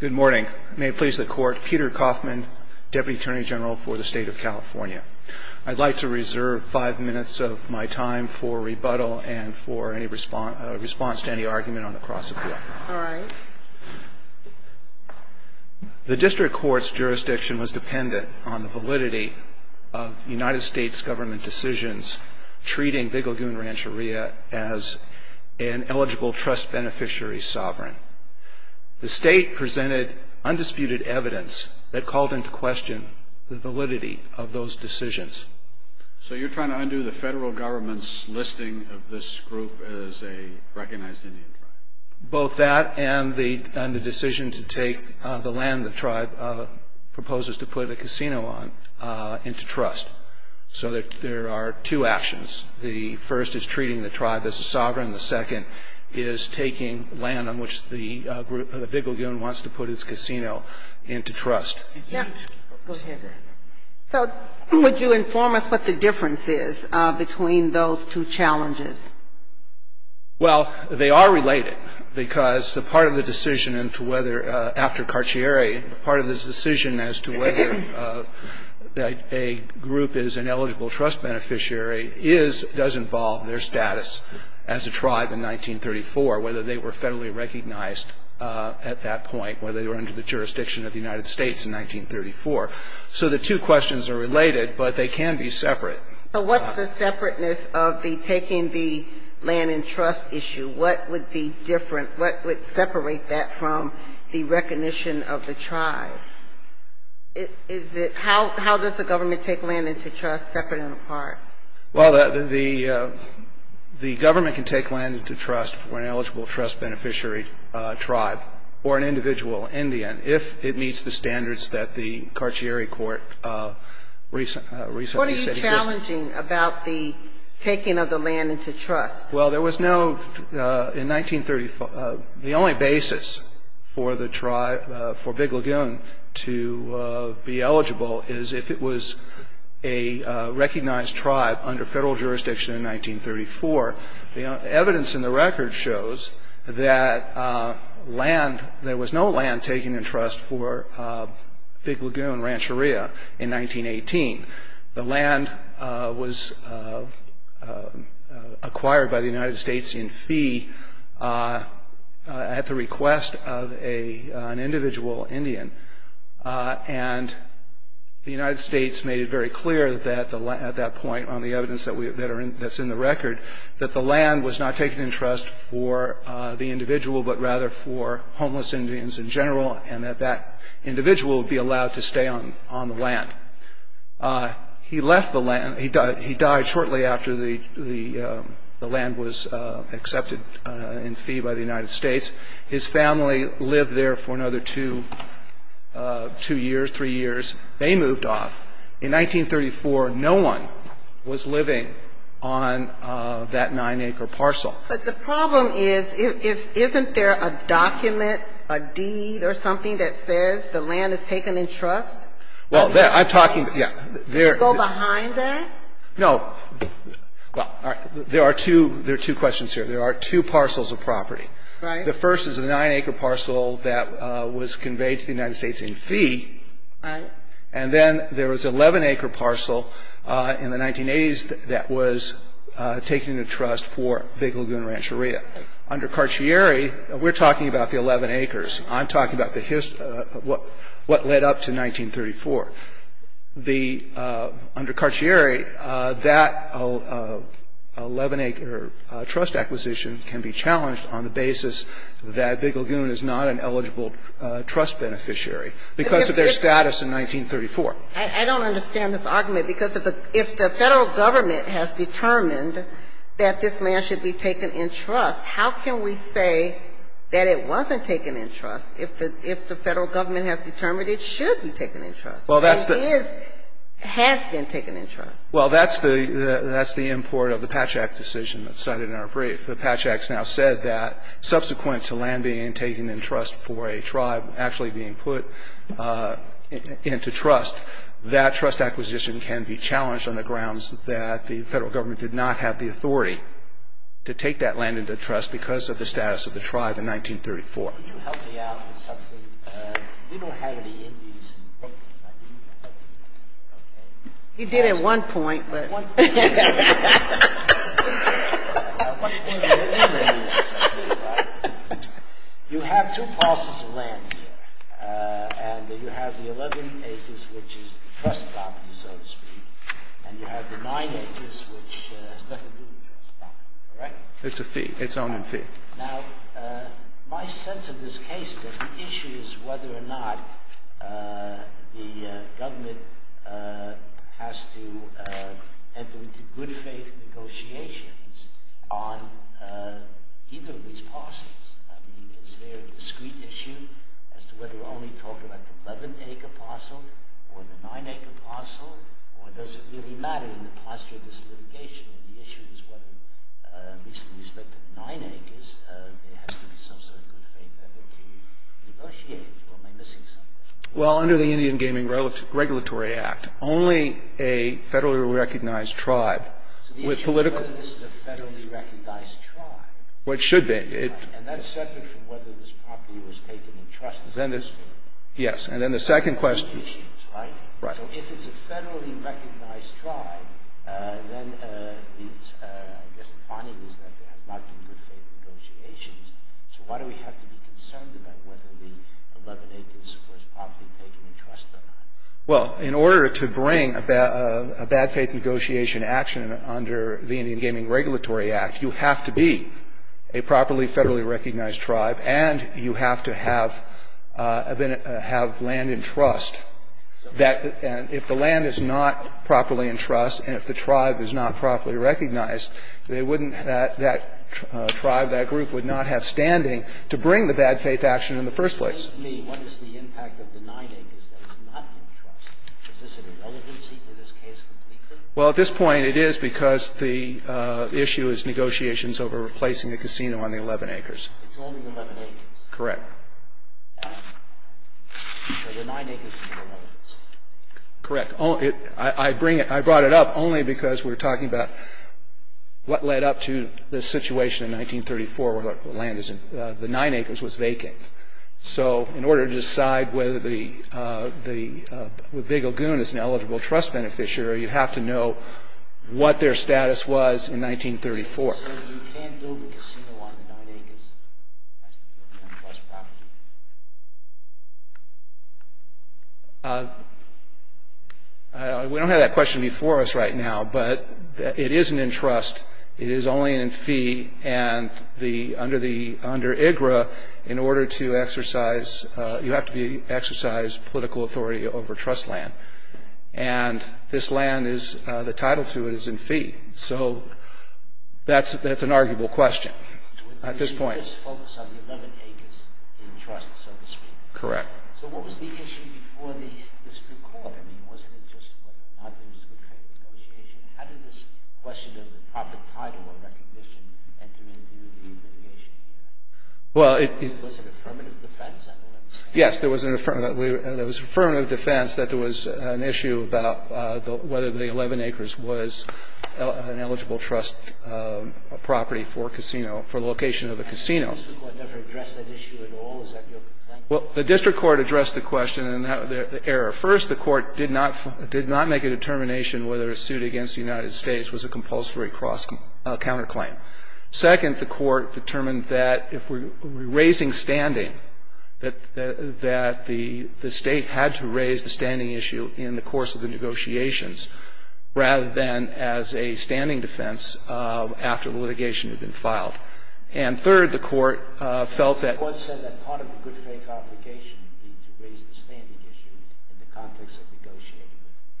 Good morning. May it please the Court, Peter Coffman, Deputy Attorney General for the State of California. I'd like to reserve five minutes of my time for rebuttal and for any response to any argument on the cross-appeal. All right. The District Court's jurisdiction was dependent on the validity of United States government decisions treating Big Lagoon Rancheria as an eligible trust beneficiary sovereign. The State presented undisputed evidence that called into question the validity of those decisions. So you're trying to undo the federal government's listing of this group as a recognized Indian tribe? Both that and the decision to take the land the tribe proposes to put a casino on into trust. So there are two actions. The first is treating the tribe as a sovereign. The second is taking land on which the Big Lagoon wants to put its casino into trust. Go ahead. So would you inform us what the difference is between those two challenges? Well, they are related because the part of the decision into whether, after Carcieri, part of the decision as to whether a group is an eligible trust beneficiary is, does involve their status as a tribe in 1934, whether they were federally recognized at that point, whether they were under the jurisdiction of the United States in 1934. So the two questions are related, but they can be separate. So what's the separateness of the taking the land in trust issue? What would be different? What would separate that from the recognition of the tribe? Is it how does the government take land into trust separate and apart? Well, the government can take land into trust for an eligible trust beneficiary tribe or an individual Indian if it meets the standards that the Carcieri court recently said existed. What are you challenging about the taking of the land into trust? Well, there was no, in 1934, the only basis for the tribe, for Big Lagoon to be eligible is if it was a recognized tribe under federal jurisdiction in 1934. The evidence in the record shows that land, there was no land taken in trust for Big Lagoon Rancheria in 1918. The land was acquired by the United States in fee at the request of an individual Indian. And the United States made it very clear at that point on the evidence that's in the record that the land was not taken in trust for the individual, but rather for homeless Indians in general and that that individual would be allowed to stay on the land. He left the land. He died shortly after the land was accepted in fee by the United States. His family lived there for another two years, three years. They moved off. In 1934, no one was living on that nine-acre parcel. But the problem is, isn't there a document, a deed or something that says the land is taken in trust? Well, I'm talking, yeah. Could you go behind that? No. Well, there are two questions here. There are two parcels of property. Right. The first is a nine-acre parcel that was conveyed to the United States in fee. Right. And then there was an 11-acre parcel in the 1980s that was taken in trust for Big Lagoon Rancheria. Under Carcieri, we're talking about the 11 acres. I'm talking about what led up to 1934. Under Carcieri, that 11-acre trust acquisition can be challenged on the basis that Big Lagoon is not an eligible trust beneficiary. Because of their status in 1934. I don't understand this argument. Because if the Federal Government has determined that this land should be taken in trust, how can we say that it wasn't taken in trust if the Federal Government has determined it should be taken in trust and is, has been taken in trust? Well, that's the import of the Patch Act decision that's cited in our brief. The Patch Act has now said that subsequent to land being taken in trust for a tribe actually being put into trust, that trust acquisition can be challenged on the grounds that the Federal Government did not have the authority to take that land into trust because of the status of the tribe in 1934. Can you help me out with something? We don't have any Indies. He did at one point. You have two parcels of land here. And you have the 11 acres, which is the trust property, so to speak. And you have the 9 acres, which has nothing to do with the trust property. All right? It's a fee. It's an owning fee. Now, my sense of this case is that the issue is whether or not the government has to grant land to the tribe. Enter into good faith negotiations on either of these parcels. I mean, is there a discrete issue as to whether we're only talking about the 11-acre parcel or the 9-acre parcel? Or does it really matter in the posture of this litigation? The issue is whether, at least with respect to the 9 acres, there has to be some sort of good faith effort to negotiate. Or am I missing something? Well, under the Indian Gaming Regulatory Act, only a federally recognized tribe with political ‑‑ So the issue is whether this is a federally recognized tribe. Which should be. And that's separate from whether this property was taken in trust as well. Yes. And then the second question ‑‑ So if it's a federally recognized tribe, then I guess the finding is that there has not been good faith negotiations. So why do we have to be concerned about whether the 11 acres was properly taken in trust or not? Well, in order to bring a bad faith negotiation action under the Indian Gaming Regulatory Act, you have to be a properly federally recognized tribe and you have to have land in trust. If the land is not properly in trust and if the tribe is not properly recognized, they wouldn't ‑‑ that tribe, that group would not have standing to bring the bad faith action in the first place. To me, what is the impact of the 9 acres that is not in trust? Is this in relevancy to this case completely? Well, at this point, it is because the issue is negotiations over replacing the casino on the 11 acres. It's only the 11 acres. Correct. So the 9 acres is in relevancy. Correct. I brought it up only because we're talking about what led up to the situation in 1934 where the land is in ‑‑ the 9 acres was vacant. So in order to decide whether the Big Lagoon is an eligible trust beneficiary, you have to know what their status was in 1934. You can't build a casino on the 9 acres. It has to be on trust property. We don't have that question before us right now, but it isn't in trust. It is only in fee. And under IGRA, in order to exercise ‑‑ you have to exercise political authority over trust land. And this land is ‑‑ the title to it is in fee. So that's an arguable question at this point. So you just focus on the 11 acres in trust, so to speak. Correct. So what was the issue before this new court? I mean, wasn't it just, well, not that it was a good kind of negotiation? How did this question of the proper title or recognition enter into the new litigation here? Well, it ‑‑ Was it affirmative defense? I don't understand. Yes, there was an affirmative ‑‑ affirmative defense that there was an issue about whether the 11 acres was an eligible trust property for a casino, for the location of a casino. The district court never addressed that issue at all. Is that your complaint? Well, the district court addressed the question and the error. First, the court did not make a determination whether a suit against the United States was a compulsory counterclaim. Second, the court determined that if we're raising standing, that the state had to raise the standing issue in the course of the negotiations, rather than as a standing defense after the litigation had been filed. And third, the court felt that ‑‑ The court said that part of the good faith obligation would be to raise the standing issue in the context of negotiating with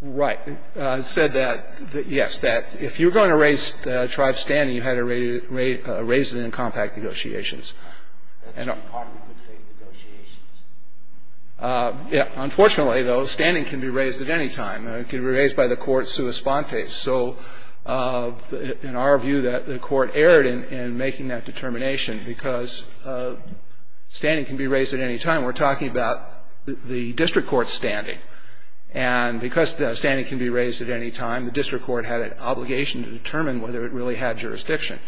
the tribe. Right. The court said that, yes, that if you're going to raise the tribe's standing, you had to raise it in compact negotiations. That's part of the good faith negotiations. Yeah. Unfortunately, though, standing can be raised at any time. It can be raised by the court's sua sponte. So in our view, the court erred in making that determination because standing can be raised at any time. We're talking about the district court's standing. And because standing can be raised at any time, the district court had an obligation to determine whether it really had jurisdiction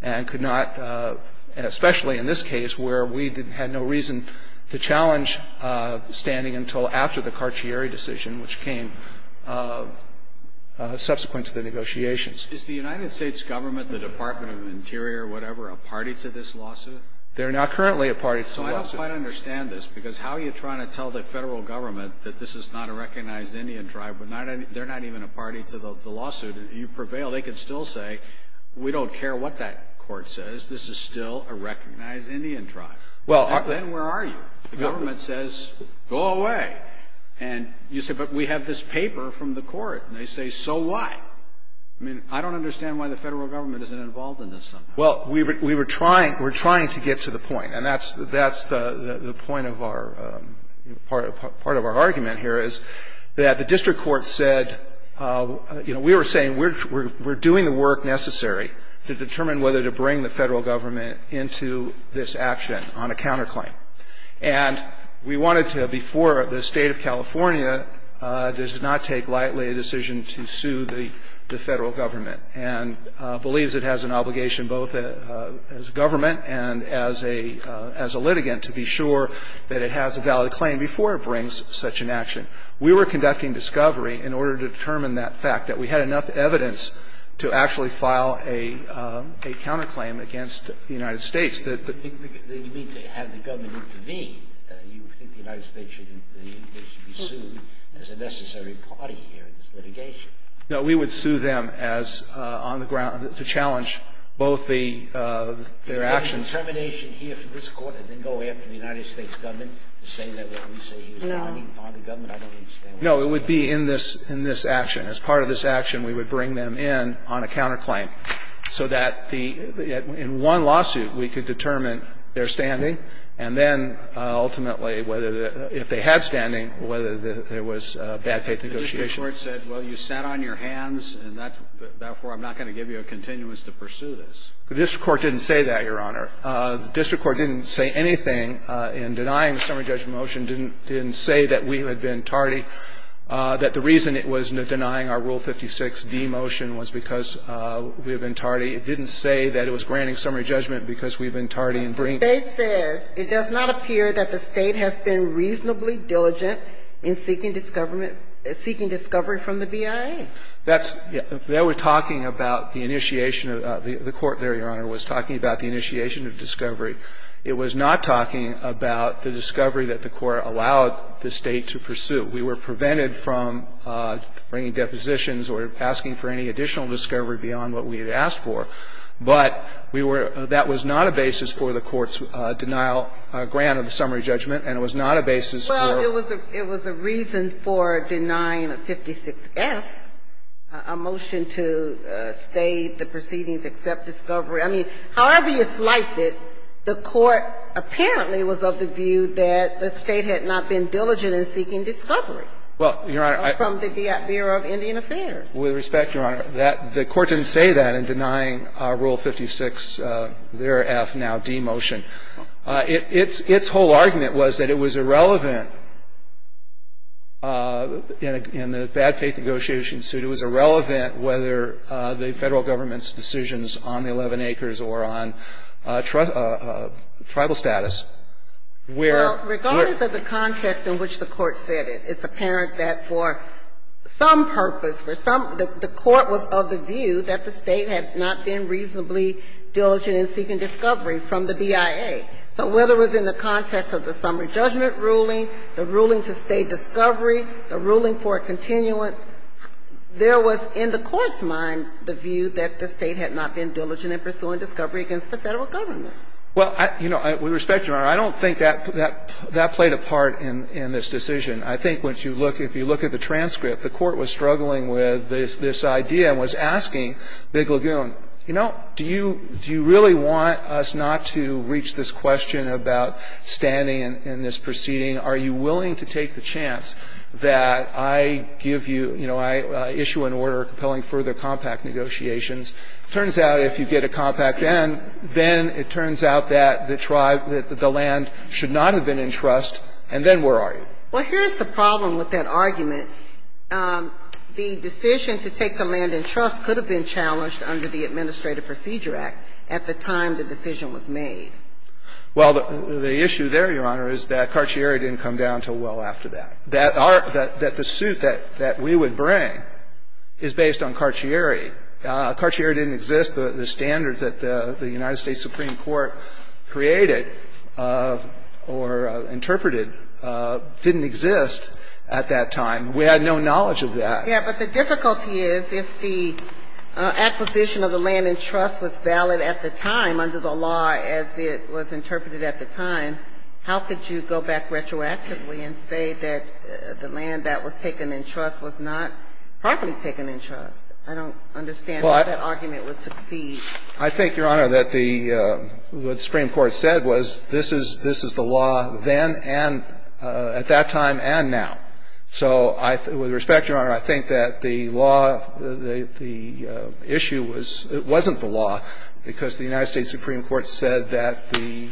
and could not, especially in this case, where we had no reason to challenge standing until after the Carcieri decision, which came subsequent to the negotiations. Is the United States government, the Department of Interior, whatever, a party to this lawsuit? They're not currently a party to the lawsuit. So I don't quite understand this because how are you trying to tell the federal government that this is not a recognized Indian tribe? They're not even a party to the lawsuit. You prevail. They can still say, we don't care what that court says. This is still a recognized Indian tribe. And then where are you? The government says, go away. And you say, but we have this paper from the court. And they say, so why? I mean, I don't understand why the federal government isn't involved in this somehow. Well, we were trying to get to the point. And that's the point of our, part of our argument here is that the district court said, you know, we were saying we're doing the work necessary to determine whether to bring the federal government into this action on a counterclaim. And we wanted to, before the State of California, this did not take lightly a decision to sue the federal government and believes it has an obligation both as a government and as a litigant to be sure that it has a valid claim before it brings such an action. We were conducting discovery in order to determine that fact, that we had enough evidence to actually file a counterclaim against the United States. You mean to have the government intervene. You think the United States should be sued as a necessary party here in this litigation. No. We would sue them as on the ground to challenge both the, their actions. Is there determination here for this Court to then go after the United States government to say that what we say here is not any part of the government? I don't understand. No. It would be in this, in this action. As part of this action, we would bring them in on a counterclaim so that the, in one lawsuit, we could determine their standing and then ultimately whether the, if they had standing, whether there was bad faith negotiation. The district court said, well, you sat on your hands and that, therefore, I'm not going to give you a continuance to pursue this. The district court didn't say that, Your Honor. The district court didn't say anything in denying the summary judgment motion, didn't say that we had been tardy, that the reason it was denying our Rule 56d motion was because we had been tardy. It didn't say that it was granting summary judgment because we had been tardy in bringing The State says, it does not appear that the State has been reasonably diligent in seeking discovery from the BIA. That's, they were talking about the initiation of, the Court there, Your Honor, was talking about the initiation of discovery. It was not talking about the discovery that the Court allowed the State to pursue. We were prevented from bringing depositions or asking for any additional discovery beyond what we had asked for. But we were, that was not a basis for the Court's denial, grant of the summary judgment, and it was not a basis for Well, it was a reason for denying a 56f, a motion to state the proceedings except discovery. I mean, however you slice it, the Court apparently was of the view that the State had not been diligent in seeking discovery. Well, Your Honor, I From the Bureau of Indian Affairs. With respect, Your Honor, the Court didn't say that in denying Rule 56, their F now, D motion. Its whole argument was that it was irrelevant in the bad faith negotiation suit, it was irrelevant whether the Federal Government's decisions on the 11 acres or on tribal status, where Well, regardless of the context in which the Court said it, it's apparent that for some purpose, for some, the Court was of the view that the State had not been reasonably diligent in seeking discovery from the BIA. So whether it was in the context of the summary judgment ruling, the ruling to state discovery, the ruling for a continuance, there was in the Court's mind the view that the State had not been diligent in pursuing discovery against the Federal Government. Well, you know, with respect, Your Honor, I don't think that played a part in this decision. I think when you look, if you look at the transcript, the Court was struggling with this idea and was asking Big Lagoon, you know, do you really want us not to reach this question about standing in this proceeding? Are you willing to take the chance that I give you, you know, I issue an order compelling further compact negotiations? It turns out if you get a compact then, then it turns out that the tribe, that the land should not have been in trust, and then where are you? Well, here's the problem with that argument. The decision to take the land in trust could have been challenged under the Administrative Procedure Act at the time the decision was made. Well, the issue there, Your Honor, is that Carcieri didn't come down until well after that. That the suit that we would bring is based on Carcieri. Carcieri didn't exist. The standards that the United States Supreme Court created or interpreted didn't exist at that time. We had no knowledge of that. Yeah. But the difficulty is if the acquisition of the land in trust was valid at the time under the law as it was interpreted at the time, how could you go back retroactively and say that the land that was taken in trust was not properly taken in trust? I don't understand how that argument would succeed. I think, Your Honor, that what the Supreme Court said was this is the law then and at that time and now. So with respect, Your Honor, I think that the law, the issue was it wasn't the law because the United States Supreme Court said that the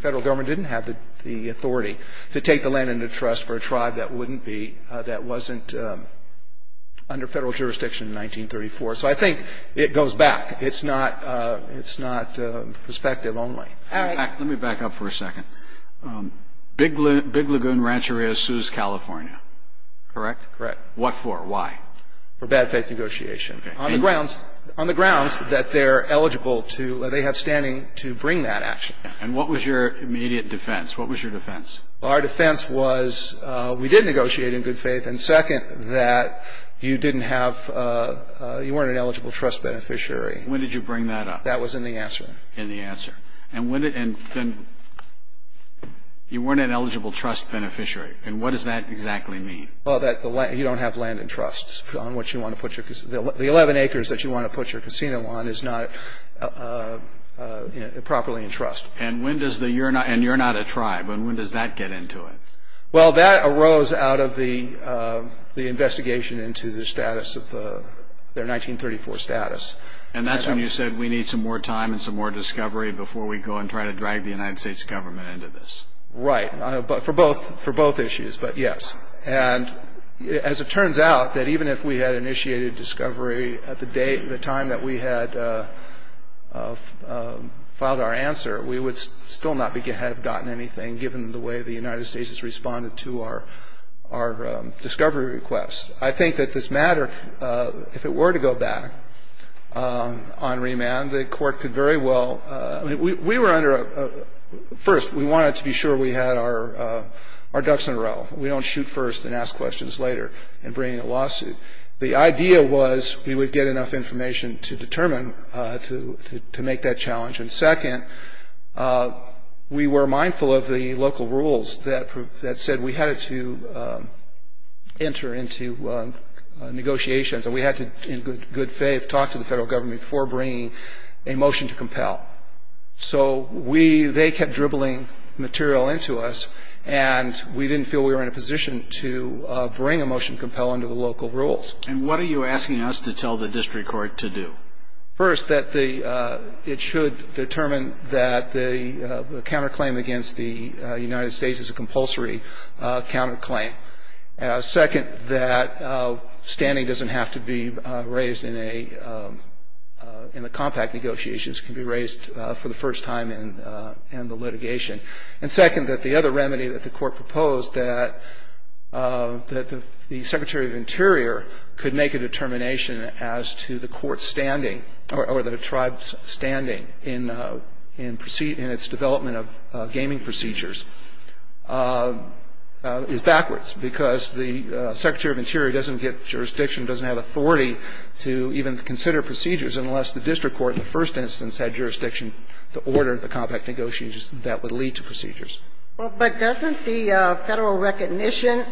Federal Government didn't have the authority to take the land into trust for a tribe that wouldn't be, that wouldn't be under Federal jurisdiction in 1934. So I think it goes back. It's not perspective only. All right. Let me back up for a second. Big Lagoon Rancheria sues California. Correct? Correct. What for? Why? For bad faith negotiation on the grounds that they're eligible to, they have standing to bring that action. And what was your immediate defense? What was your defense? Our defense was we did negotiate in good faith, and, second, that you didn't have, you weren't an eligible trust beneficiary. When did you bring that up? That was in the answer. In the answer. And when, you weren't an eligible trust beneficiary. And what does that exactly mean? Well, that you don't have land in trust on which you want to put your, the 11 acres that you want to put your casino on is not properly in trust. And you're not a tribe. And when does that get into it? Well, that arose out of the investigation into the status of the, their 1934 status. And that's when you said we need some more time and some more discovery before we go and try to drag the United States government into this? Right. For both issues. But, yes. And as it turns out, that even if we had initiated discovery at the time that we had filed our answer, we would still not have gotten anything given the way the United States has responded to our discovery request. I think that this matter, if it were to go back on remand, the court could very well, we were under a, first, we wanted to be sure we had our ducks in a row. We don't shoot first and ask questions later in bringing a lawsuit. The idea was we would get enough information to determine, to make that challenge. And second, we were mindful of the local rules that said we had to enter into negotiations. And we had to, in good faith, talk to the federal government before bringing a motion to compel. So we, they kept dribbling material into us. And we didn't feel we were in a position to bring a motion to compel under the local rules. And what are you asking us to tell the district court to do? First, that it should determine that the counterclaim against the United States is a compulsory counterclaim. Second, that standing doesn't have to be raised in a compact negotiations. It can be raised for the first time in the litigation. And second, that the other remedy that the court proposed, that the Secretary of Interior could make a determination as to the court's standing or the tribe's standing in its development of gaming procedures, is backwards. Because the Secretary of Interior doesn't get jurisdiction, doesn't have authority to even consider procedures unless the district court in the first instance had jurisdiction to order the compact negotiations that would lead to procedures. Well, but doesn't the federal recognition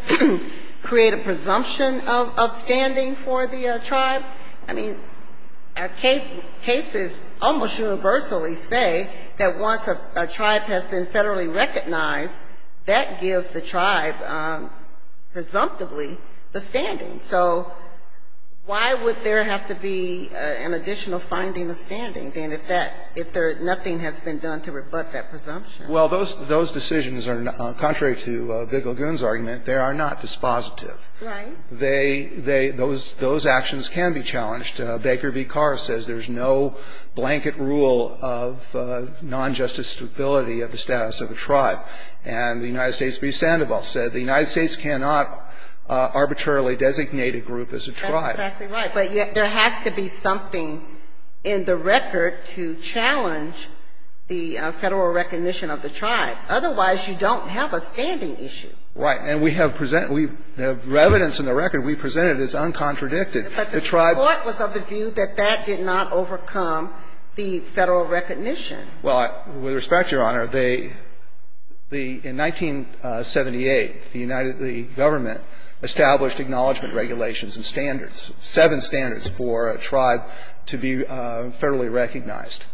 create a presumption of standing for the tribe? I mean, our cases almost universally say that once a tribe has been federally recognized, that gives the tribe, presumptively, the standing. So why would there have to be an additional finding of standing, then, if nothing has been done to rebut that presumption? Well, those decisions are, contrary to Bigelgun's argument, they are not dispositive. Right. Those actions can be challenged. Baker v. Carr says there's no blanket rule of non-justice stability of the status of a tribe. And the United States v. Sandoval said the United States cannot arbitrarily designate a group as a tribe. That's exactly right. But yet there has to be something in the record to challenge the federal recognition of the tribe. Otherwise, you don't have a standing issue. Right. And we have presented the evidence in the record. We presented it as uncontradicted. But the court was of the view that that did not overcome the federal recognition. Well, with respect, Your Honor, in 1978, the government established acknowledgment regulations and standards, seven standards for a tribe to be federally recognized.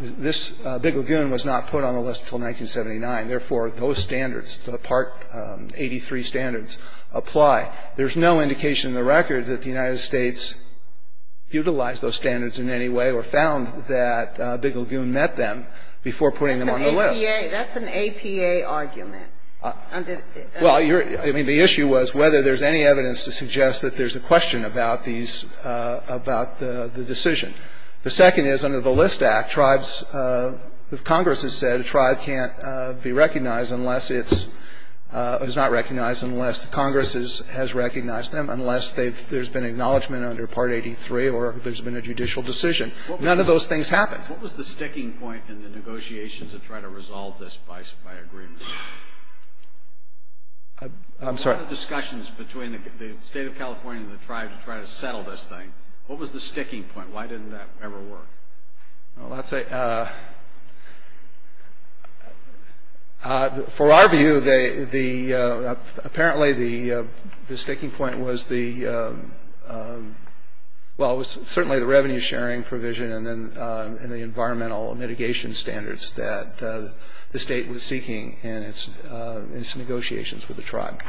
This Bigelgun was not put on the list until 1979. Therefore, those standards, the Part 83 standards, apply. There's no indication in the record that the United States utilized those standards in any way or found that Bigelgun met them before putting them on the list. That's an APA argument. Well, I mean, the issue was whether there's any evidence to suggest that there's a question about these about the decision. The second is under the List Act, tribes, if Congress has said a tribe can't be recognized unless it's, is not recognized unless Congress has recognized them, unless there's been acknowledgment under Part 83 or there's been a judicial decision. None of those things happened. What was the sticking point in the negotiations to try to resolve this by agreement? I'm sorry. What were the discussions between the State of California and the tribe to try to settle this thing? What was the sticking point? Why didn't that ever work? Well, let's say, for our view, the, apparently, the sticking point was the, well, it was certainly the revenue-sharing provision and then the environmental mitigation standards that the State was seeking in its negotiations with the tribe.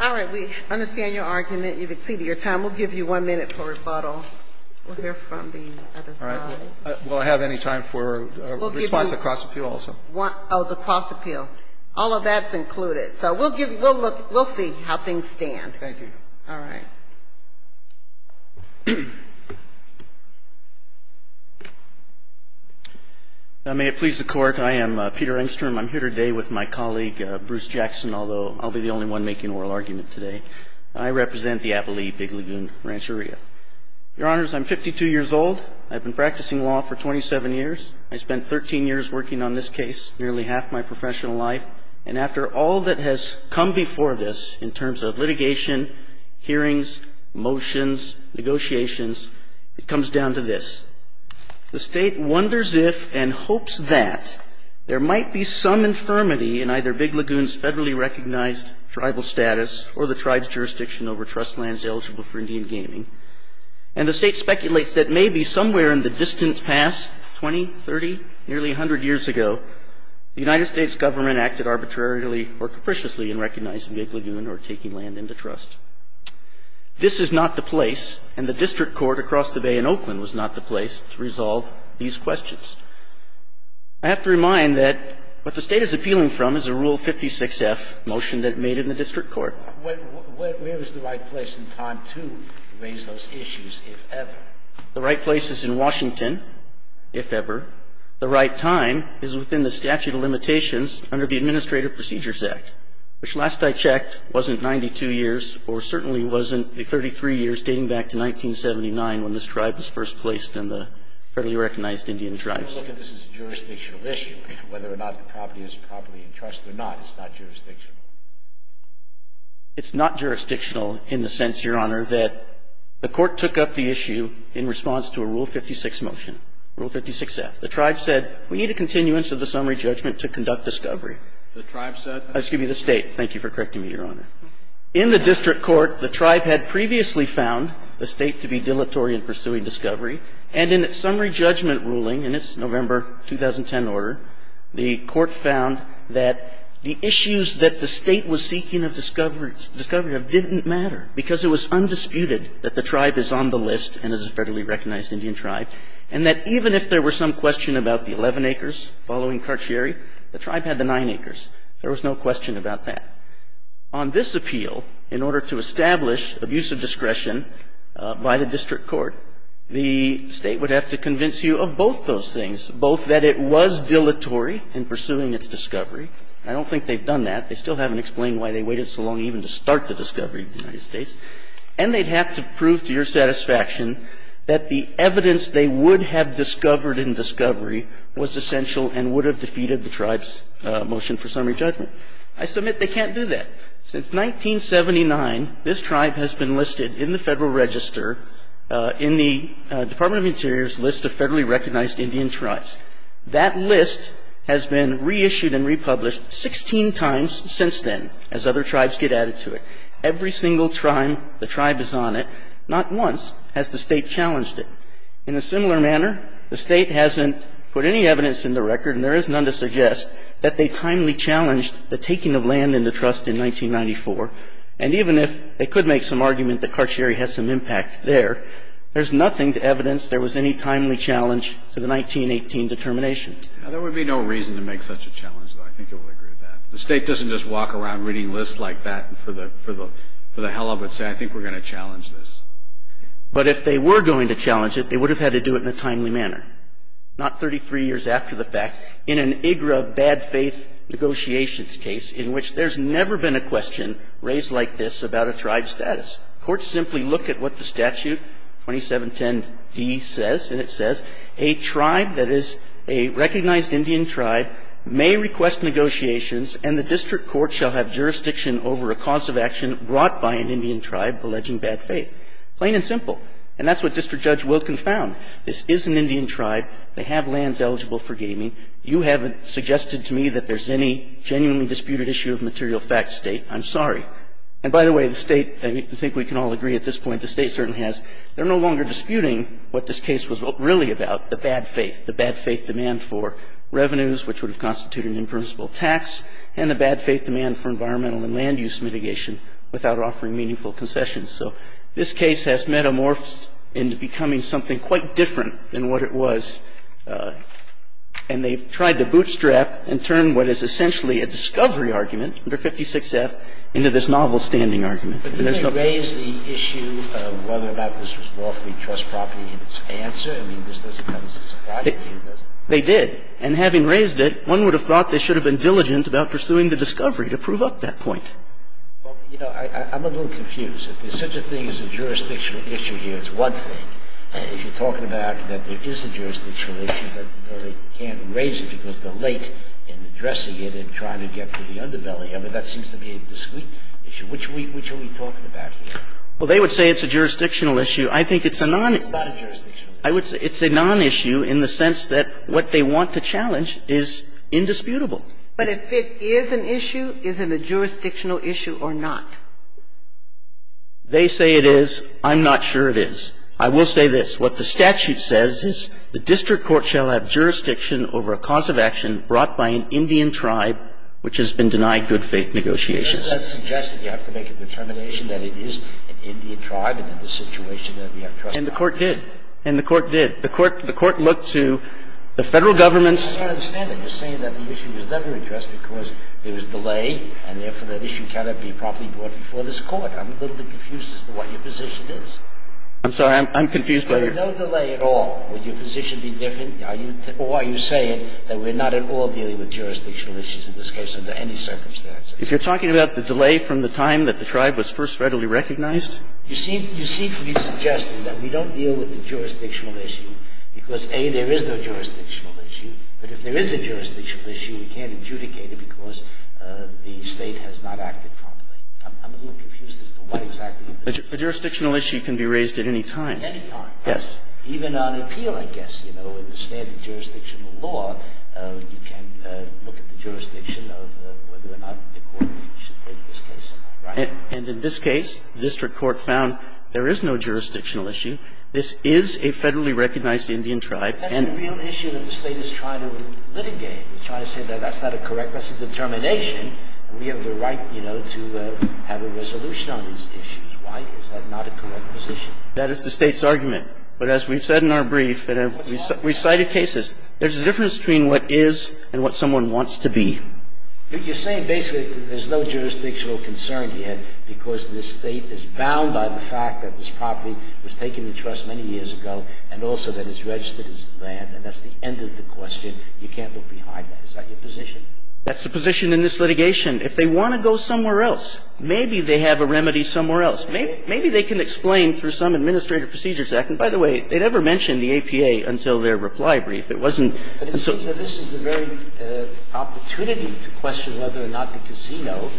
All right. We understand your argument. You've exceeded your time. We'll give you one minute for rebuttal. We'll hear from the other side. All right. Will I have any time for response to cross-appeal also? Oh, the cross-appeal. All of that's included. So we'll give you, we'll look, we'll see how things stand. Thank you. All right. May it please the Court. I am Peter Engstrom. I'm here today with my colleague, Bruce Jackson, although I'll be the only one making an oral argument today. I represent the Appalachee Big Lagoon Rancheria. Your Honors, I'm 52 years old. I've been practicing law for 27 years. I spent 13 years working on this case, nearly half my professional life. And after all that has come before this in terms of litigation, hearings, motions, negotiations, it comes down to this. The State wonders if and hopes that there might be some infirmity in either Big Lagoon's federally recognized tribal status or the tribe's jurisdiction over trust lands eligible for Indian gaming. And the State speculates that maybe somewhere in the distant past, 20, 30, nearly 100 years ago, the United States Government acted arbitrarily or capriciously in recognizing Big Lagoon or taking land into trust. This is not the place, and the district court across the Bay in Oakland was not the place, to resolve these questions. I have to remind that what the State is appealing from is a Rule 56F motion that it made in the district court. Where is the right place and time to raise those issues, if ever? The right place is in Washington, if ever. The right time is within the statute of limitations under the Administrative Procedures Act, which last I checked wasn't 92 years or certainly wasn't the 33 years dating back to 1979 when this tribe was first placed in the federally recognized Indian tribes. This is a jurisdictional issue. Whether or not the property is properly entrusted or not, it's not jurisdictional. It's not jurisdictional in the sense, Your Honor, that the Court took up the issue in response to a Rule 56 motion, Rule 56F. The tribe said, we need a continuance of the summary judgment to conduct discovery. The tribe said? Excuse me, the State. Thank you for correcting me, Your Honor. In the district court, the tribe had previously found the State to be dilatory in pursuing discovery. And in its summary judgment ruling, and it's November 2010 order, the court found that the issues that the State was seeking of discovery of didn't matter because it was undisputed that the tribe is on the list and is a federally recognized Indian tribe. And that even if there were some question about the 11 acres following Karcheri, the tribe had the 9 acres. There was no question about that. On this appeal, in order to establish abuse of discretion by the district court, the State would have to convince you of both those things, both that it was dilatory in pursuing its discovery. I don't think they've done that. They still haven't explained why they waited so long even to start the discovery of the United States. And they'd have to prove to your satisfaction that the evidence they would have discovered in discovery was essential and would have defeated the tribe's motion for summary judgment. I submit they can't do that. Since 1979, this tribe has been listed in the Federal Register in the Department of Interior's list of federally recognized Indian tribes. That list has been reissued and republished 16 times since then, as other tribes get added to it. Every single time the tribe is on it, not once has the State challenged it. In a similar manner, the State hasn't put any evidence in the record, and there is none to suggest, that they timely challenged the taking of land in the trust in 1994. And even if they could make some argument that Karcheri has some impact there, there's nothing to evidence there was any timely challenge to the 1918 determination. There would be no reason to make such a challenge, though. I think you'll agree with that. The State doesn't just walk around reading lists like that for the hell of it and say, I think we're going to challenge this. But if they were going to challenge it, they would have had to do it in a timely manner, not 33 years after the fact, in an IGRA bad faith negotiations case, in which there's never been a question raised like this about a tribe's status. Courts simply look at what the statute 2710D says, and it says, Plain and simple. And that's what District Judge Wilken found. This is an Indian tribe. They have lands eligible for gaming. You haven't suggested to me that there's any genuinely disputed issue of material fact, State. I'm sorry. And by the way, the State, I think we can all agree at this point, the State certainly They're not going to challenge it. They're not going to challenge it. And they've tried to bootstrap and turn what is essentially a discovery argument under 56F into this novel standing argument. And there's no question about that. They did. And having raised it, one would have thought they should have been diligent about pursuing the discovery to prove up that point. Well, you know, I'm a little confused. If there's such a thing as a jurisdictional issue here, it's one thing. If you're talking about that there is a jurisdictional issue, but they can't raise it because they're late in addressing it and trying to get to the underbelly of it, that seems to be a discrete issue. Which are we talking about here? Well, they would say it's a jurisdictional issue. I think it's a non- It's not a jurisdictional issue. I would say it's a non-issue in the sense that what they want to challenge is indisputable. But if it is an issue, is it a jurisdictional issue or not? They say it is. I'm not sure it is. I will say this. What the statute says is the district court shall have jurisdiction over a cause of action brought by an Indian tribe which has been denied good-faith negotiations. But doesn't that suggest that you have to make a determination that it is an Indian tribe and in this situation that we have to trust God? And the Court did. And the Court did. The Court looked to the Federal government's ---- I don't understand that. You're saying that the issue was never addressed because there was delay and therefore that issue cannot be properly brought before this Court. I'm a little bit confused as to what your position is. I'm sorry. I'm confused by your ---- There was no delay at all. Would your position be different? Or are you saying that we're not at all dealing with jurisdictional issues in this case under any circumstances? If you're talking about the delay from the time that the tribe was first federally recognized? You seem to be suggesting that we don't deal with the jurisdictional issue because, A, there is no jurisdictional issue. But if there is a jurisdictional issue, we can't adjudicate it because the State has not acted properly. I'm a little confused as to what exactly your position is. A jurisdictional issue can be raised at any time. At any time. Yes. Even on appeal, I guess, you know, in the standard jurisdictional law, you can look at the jurisdiction of whether or not the Court should take this case. Right? And in this case, the district court found there is no jurisdictional issue. This is a federally recognized Indian tribe and ---- That's the real issue that the State is trying to litigate. It's trying to say that that's not a correct ---- that's a determination and we have the right, you know, to have a resolution on these issues. Why is that not a correct position? That is the State's argument. But as we've said in our brief and we've cited cases, there's a difference between what is and what someone wants to be. You're saying basically there's no jurisdictional concern yet because the State is bound by the fact that this property was taken in trust many years ago and also that it's registered as the land and that's the end of the question. You can't look behind that. Is that your position? That's the position in this litigation. If they want to go somewhere else, maybe they have a remedy somewhere else. Maybe they can explain through some Administrative Procedures Act. And by the way, they never mentioned the APA until their reply brief. It wasn't until ---- It seems that this is the very opportunity to question whether or not the casino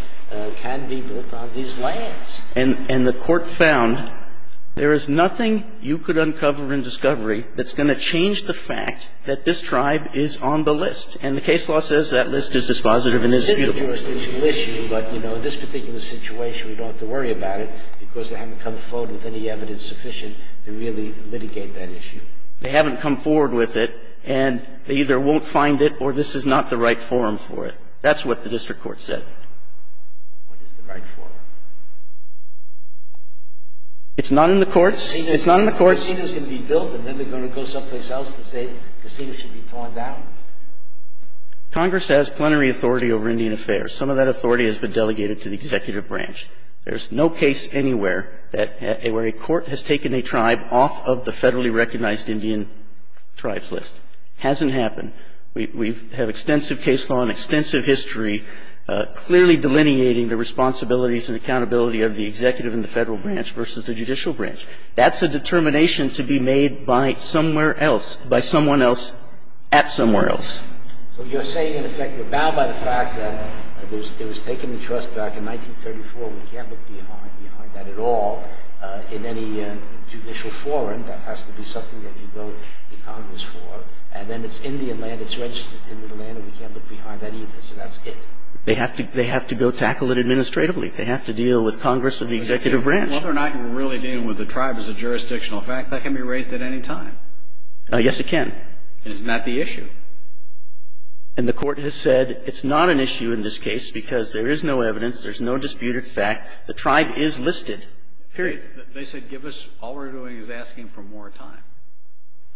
can be built on these lands. And the Court found there is nothing you could uncover in discovery that's going to change the fact that this tribe is on the list. And the case law says that list is dispositive and is beautiful. But, you know, in this particular situation, we don't have to worry about it because they haven't come forward with any evidence sufficient to really litigate that issue. They haven't come forward with it and they either won't find it or this is not the right forum for it. That's what the district court said. What is the right forum? It's not in the courts. It's not in the courts. Casinos can be built and then they're going to go someplace else to say casinos should be torn down. Congress has plenary authority over Indian affairs. Some of that authority has been delegated to the executive branch. There's no case anywhere where a court has taken a tribe off of the federally recognized Indian tribes list. It hasn't happened. We have extensive case law and extensive history clearly delineating the responsibilities and accountability of the executive and the federal branch versus the judicial branch. That's a determination to be made by somewhere else, by someone else at somewhere else. So you're saying, in effect, you're bound by the fact that it was taken into trust back in 1934. We can't look behind that at all in any judicial forum. That has to be something that you vote in Congress for. And then it's Indian land. It's registered Indian land and we can't look behind that either. So that's it. They have to go tackle it administratively. They have to deal with Congress and the executive branch. Whether or not you're really dealing with the tribe as a jurisdictional fact, that can be raised at any time. Yes, it can. And it's not the issue. And the Court has said it's not an issue in this case because there is no evidence, there's no disputed fact. The tribe is listed, period. They said give us all we're doing is asking for more time.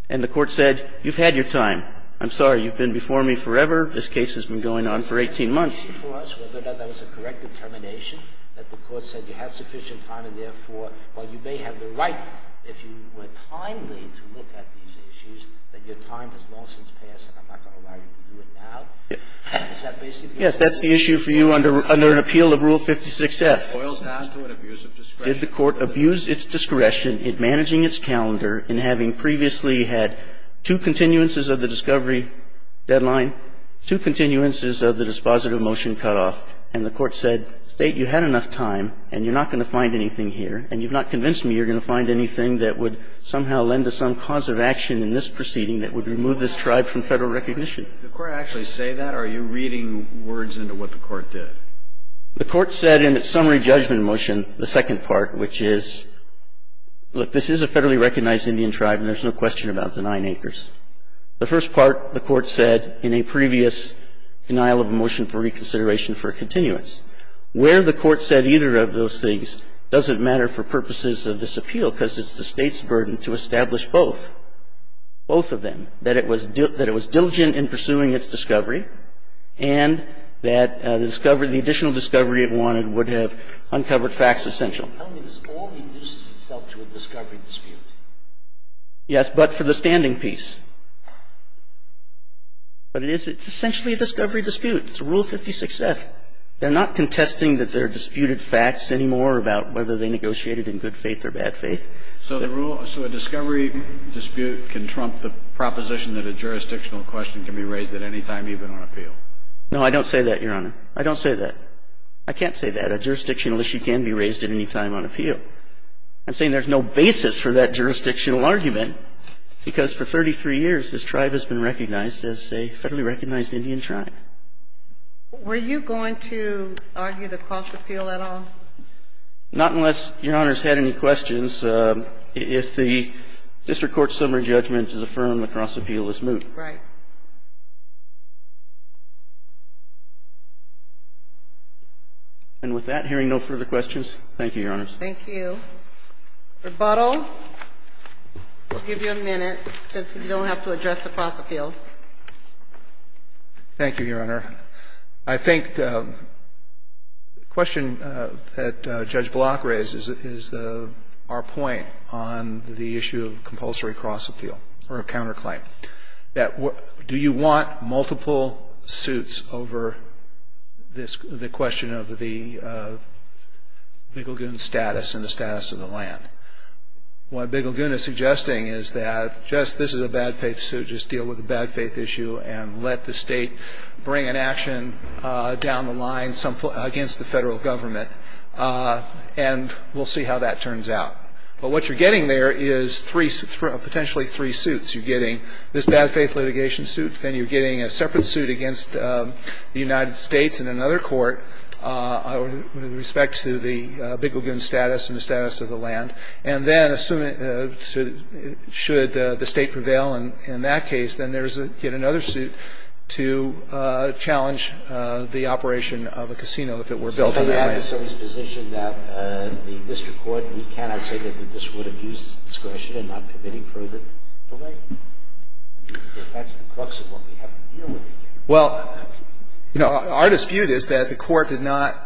And the Court said, you've had your time. I'm sorry. You've been before me forever. This case has been going on for 18 months. Is that an issue for us, whether or not that was a correct determination, that the Court said you had sufficient time and, therefore, while you may have the right, if you were timely to look at these issues, that your time has long since Is that basically what you're saying? Yes, that's the issue for you under an appeal of Rule 56F. Did the Court abuse its discretion in managing its calendar in having previously had two continuances of the discovery deadline, two continuances of the dispositive motion cutoff, and the Court said, State, you had enough time and you're not going to find anything here, and you've not convinced me you're going to find anything that would somehow lend to some cause of action in this proceeding that would remove this tribe from Federal recognition? Did the Court actually say that, or are you reading words into what the Court did? The Court said in its summary judgment motion, the second part, which is, look, this is a Federally recognized Indian tribe, and there's no question about the nine acres. The first part, the Court said in a previous denial of motion for reconsideration for a continuance. Where the Court said either of those things doesn't matter for purposes of this appeal because it's the State's burden to establish both, both of them, that it was diligent in pursuing its discovery and that the discovery, the additional discovery it wanted would have uncovered facts essential. How does this all induce itself to a discovery dispute? Yes, but for the standing piece. But it is, it's essentially a discovery dispute. It's Rule 56F. They're not contesting that there are disputed facts anymore about whether they negotiated in good faith or bad faith. So the rule, so a discovery dispute can trump the proposition that a jurisdictional question can be raised at any time even on appeal. No, I don't say that, Your Honor. I don't say that. I can't say that. A jurisdictional issue can be raised at any time on appeal. I'm saying there's no basis for that jurisdictional argument, because for 33 years this tribe has been recognized as a Federally recognized Indian tribe. Were you going to argue the cross-appeal at all? Not unless Your Honor's had any questions. If the district court's summary judgment is affirmed, the cross-appeal is moot. Right. And with that, hearing no further questions, thank you, Your Honors. Thank you. Rebuttal? I'll give you a minute, since you don't have to address the cross-appeal. Thank you, Your Honor. I think the question that Judge Block raises is our point on the issue of compulsory cross-appeal or counterclaim. Do you want multiple suits over the question of the Bigelgun status and the status of the land? What Bigelgun is suggesting is that this is a bad-faith suit, just deal with the bad-faith issue and let the state bring an action down the line against the federal government, and we'll see how that turns out. But what you're getting there is three – potentially three suits. You're getting this bad-faith litigation suit, then you're getting a separate suit against the United States in another court with respect to the Bigelgun status and the status of the land. And then assuming – should the State prevail in that case, then there's yet another suit to challenge the operation of a casino, if it were built on the land. I think that's the crux of what we have to deal with here. Well, you know, our dispute is that the Court did not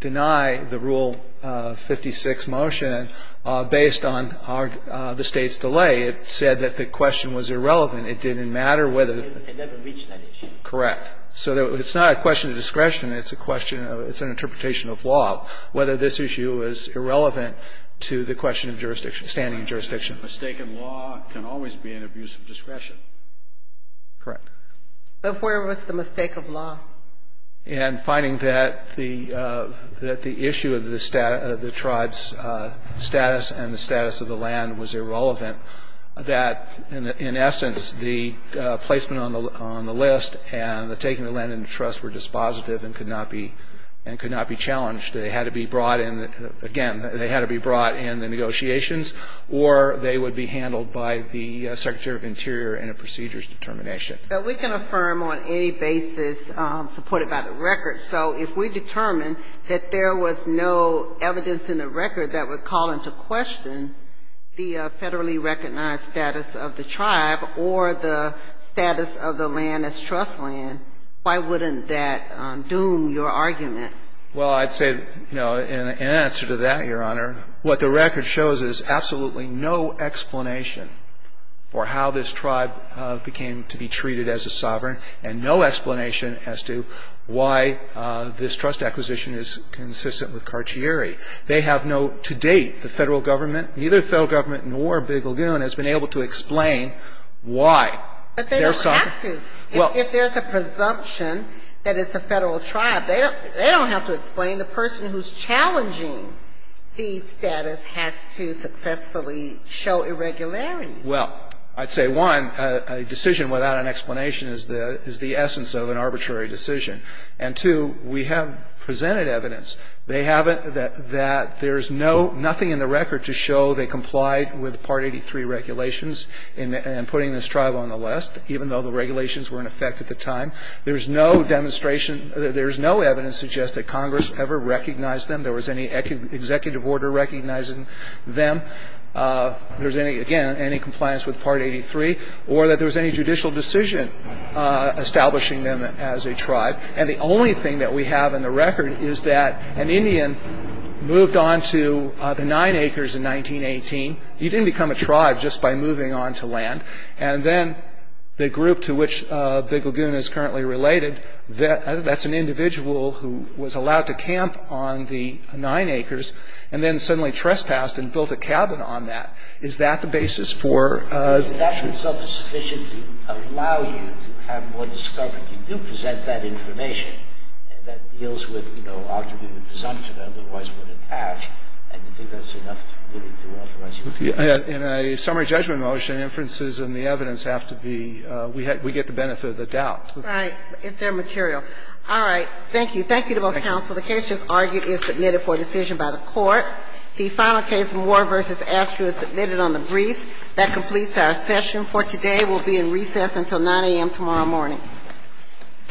deny the Rule 56 motion based on the State's delay. It said that the question was irrelevant. It didn't matter whether the – It never reached that issue. Correct. So it's not a question of discretion. It's a question of – it's an interpretation of law, whether this issue is irrelevant to the question of standing jurisdiction. A mistake in law can always be an abuse of discretion. Correct. But where was the mistake of law? In finding that the issue of the tribe's status and the status of the land was irrelevant, that, in essence, the placement on the list and the taking the land into trust were dispositive and could not be challenged. They had to be brought in – again, they had to be brought in the negotiations or they would be handled by the Secretary of Interior in a procedures determination. But we can affirm on any basis supported by the record. So if we determine that there was no evidence in the record that would call into question the federally recognized status of the tribe or the status of the land as trust land, why wouldn't that doom your argument? Well, I'd say, you know, in answer to that, Your Honor, what the record shows is absolutely no explanation for how this tribe became to be treated as a sovereign and no explanation as to why this trust acquisition is consistent with Carcieri. They have no – to date, the Federal Government, neither the Federal Government nor Big Lagoon, has been able to explain why. But they don't have to. If there's a presumption that it's a Federal tribe, they don't have to explain. The person who's challenging the status has to successfully show irregularities. Well, I'd say, one, a decision without an explanation is the essence of an arbitrary decision. And, two, we have presented evidence. They haven't – that there's no – nothing in the record to show they complied with Part 83 regulations in putting this tribe on the list, even though the regulations were in effect at the time. There's no demonstration – there's no evidence to suggest that Congress ever recognized them, there was any executive order recognizing them, there's any – again, any compliance with Part 83, or that there was any judicial decision establishing them as a tribe. And the only thing that we have in the record is that an Indian moved on to the Nine Acres in 1918. He didn't become a tribe just by moving on to land. And then the group to which Big Lagoon is currently related, that's an individual who was allowed to camp on the Nine Acres, and then suddenly trespassed and built a cabin on that. Is that the basis for – And that in itself is sufficient to allow you to have more discovery. You do present that information, and that deals with, you know, arguably the presumption otherwise would attach, and do you think that's enough really to authorize you to do that? In a summary judgment motion, inferences and the evidence have to be – we get the benefit of the doubt. Right. If they're material. All right. Thank you. Thank you to both counsels. The case just argued is submitted for decision by the Court. The final case, Moore v. Astro, is submitted on the briefs. That completes our session for today. We'll be in recess until 9 a.m. tomorrow morning. All rise.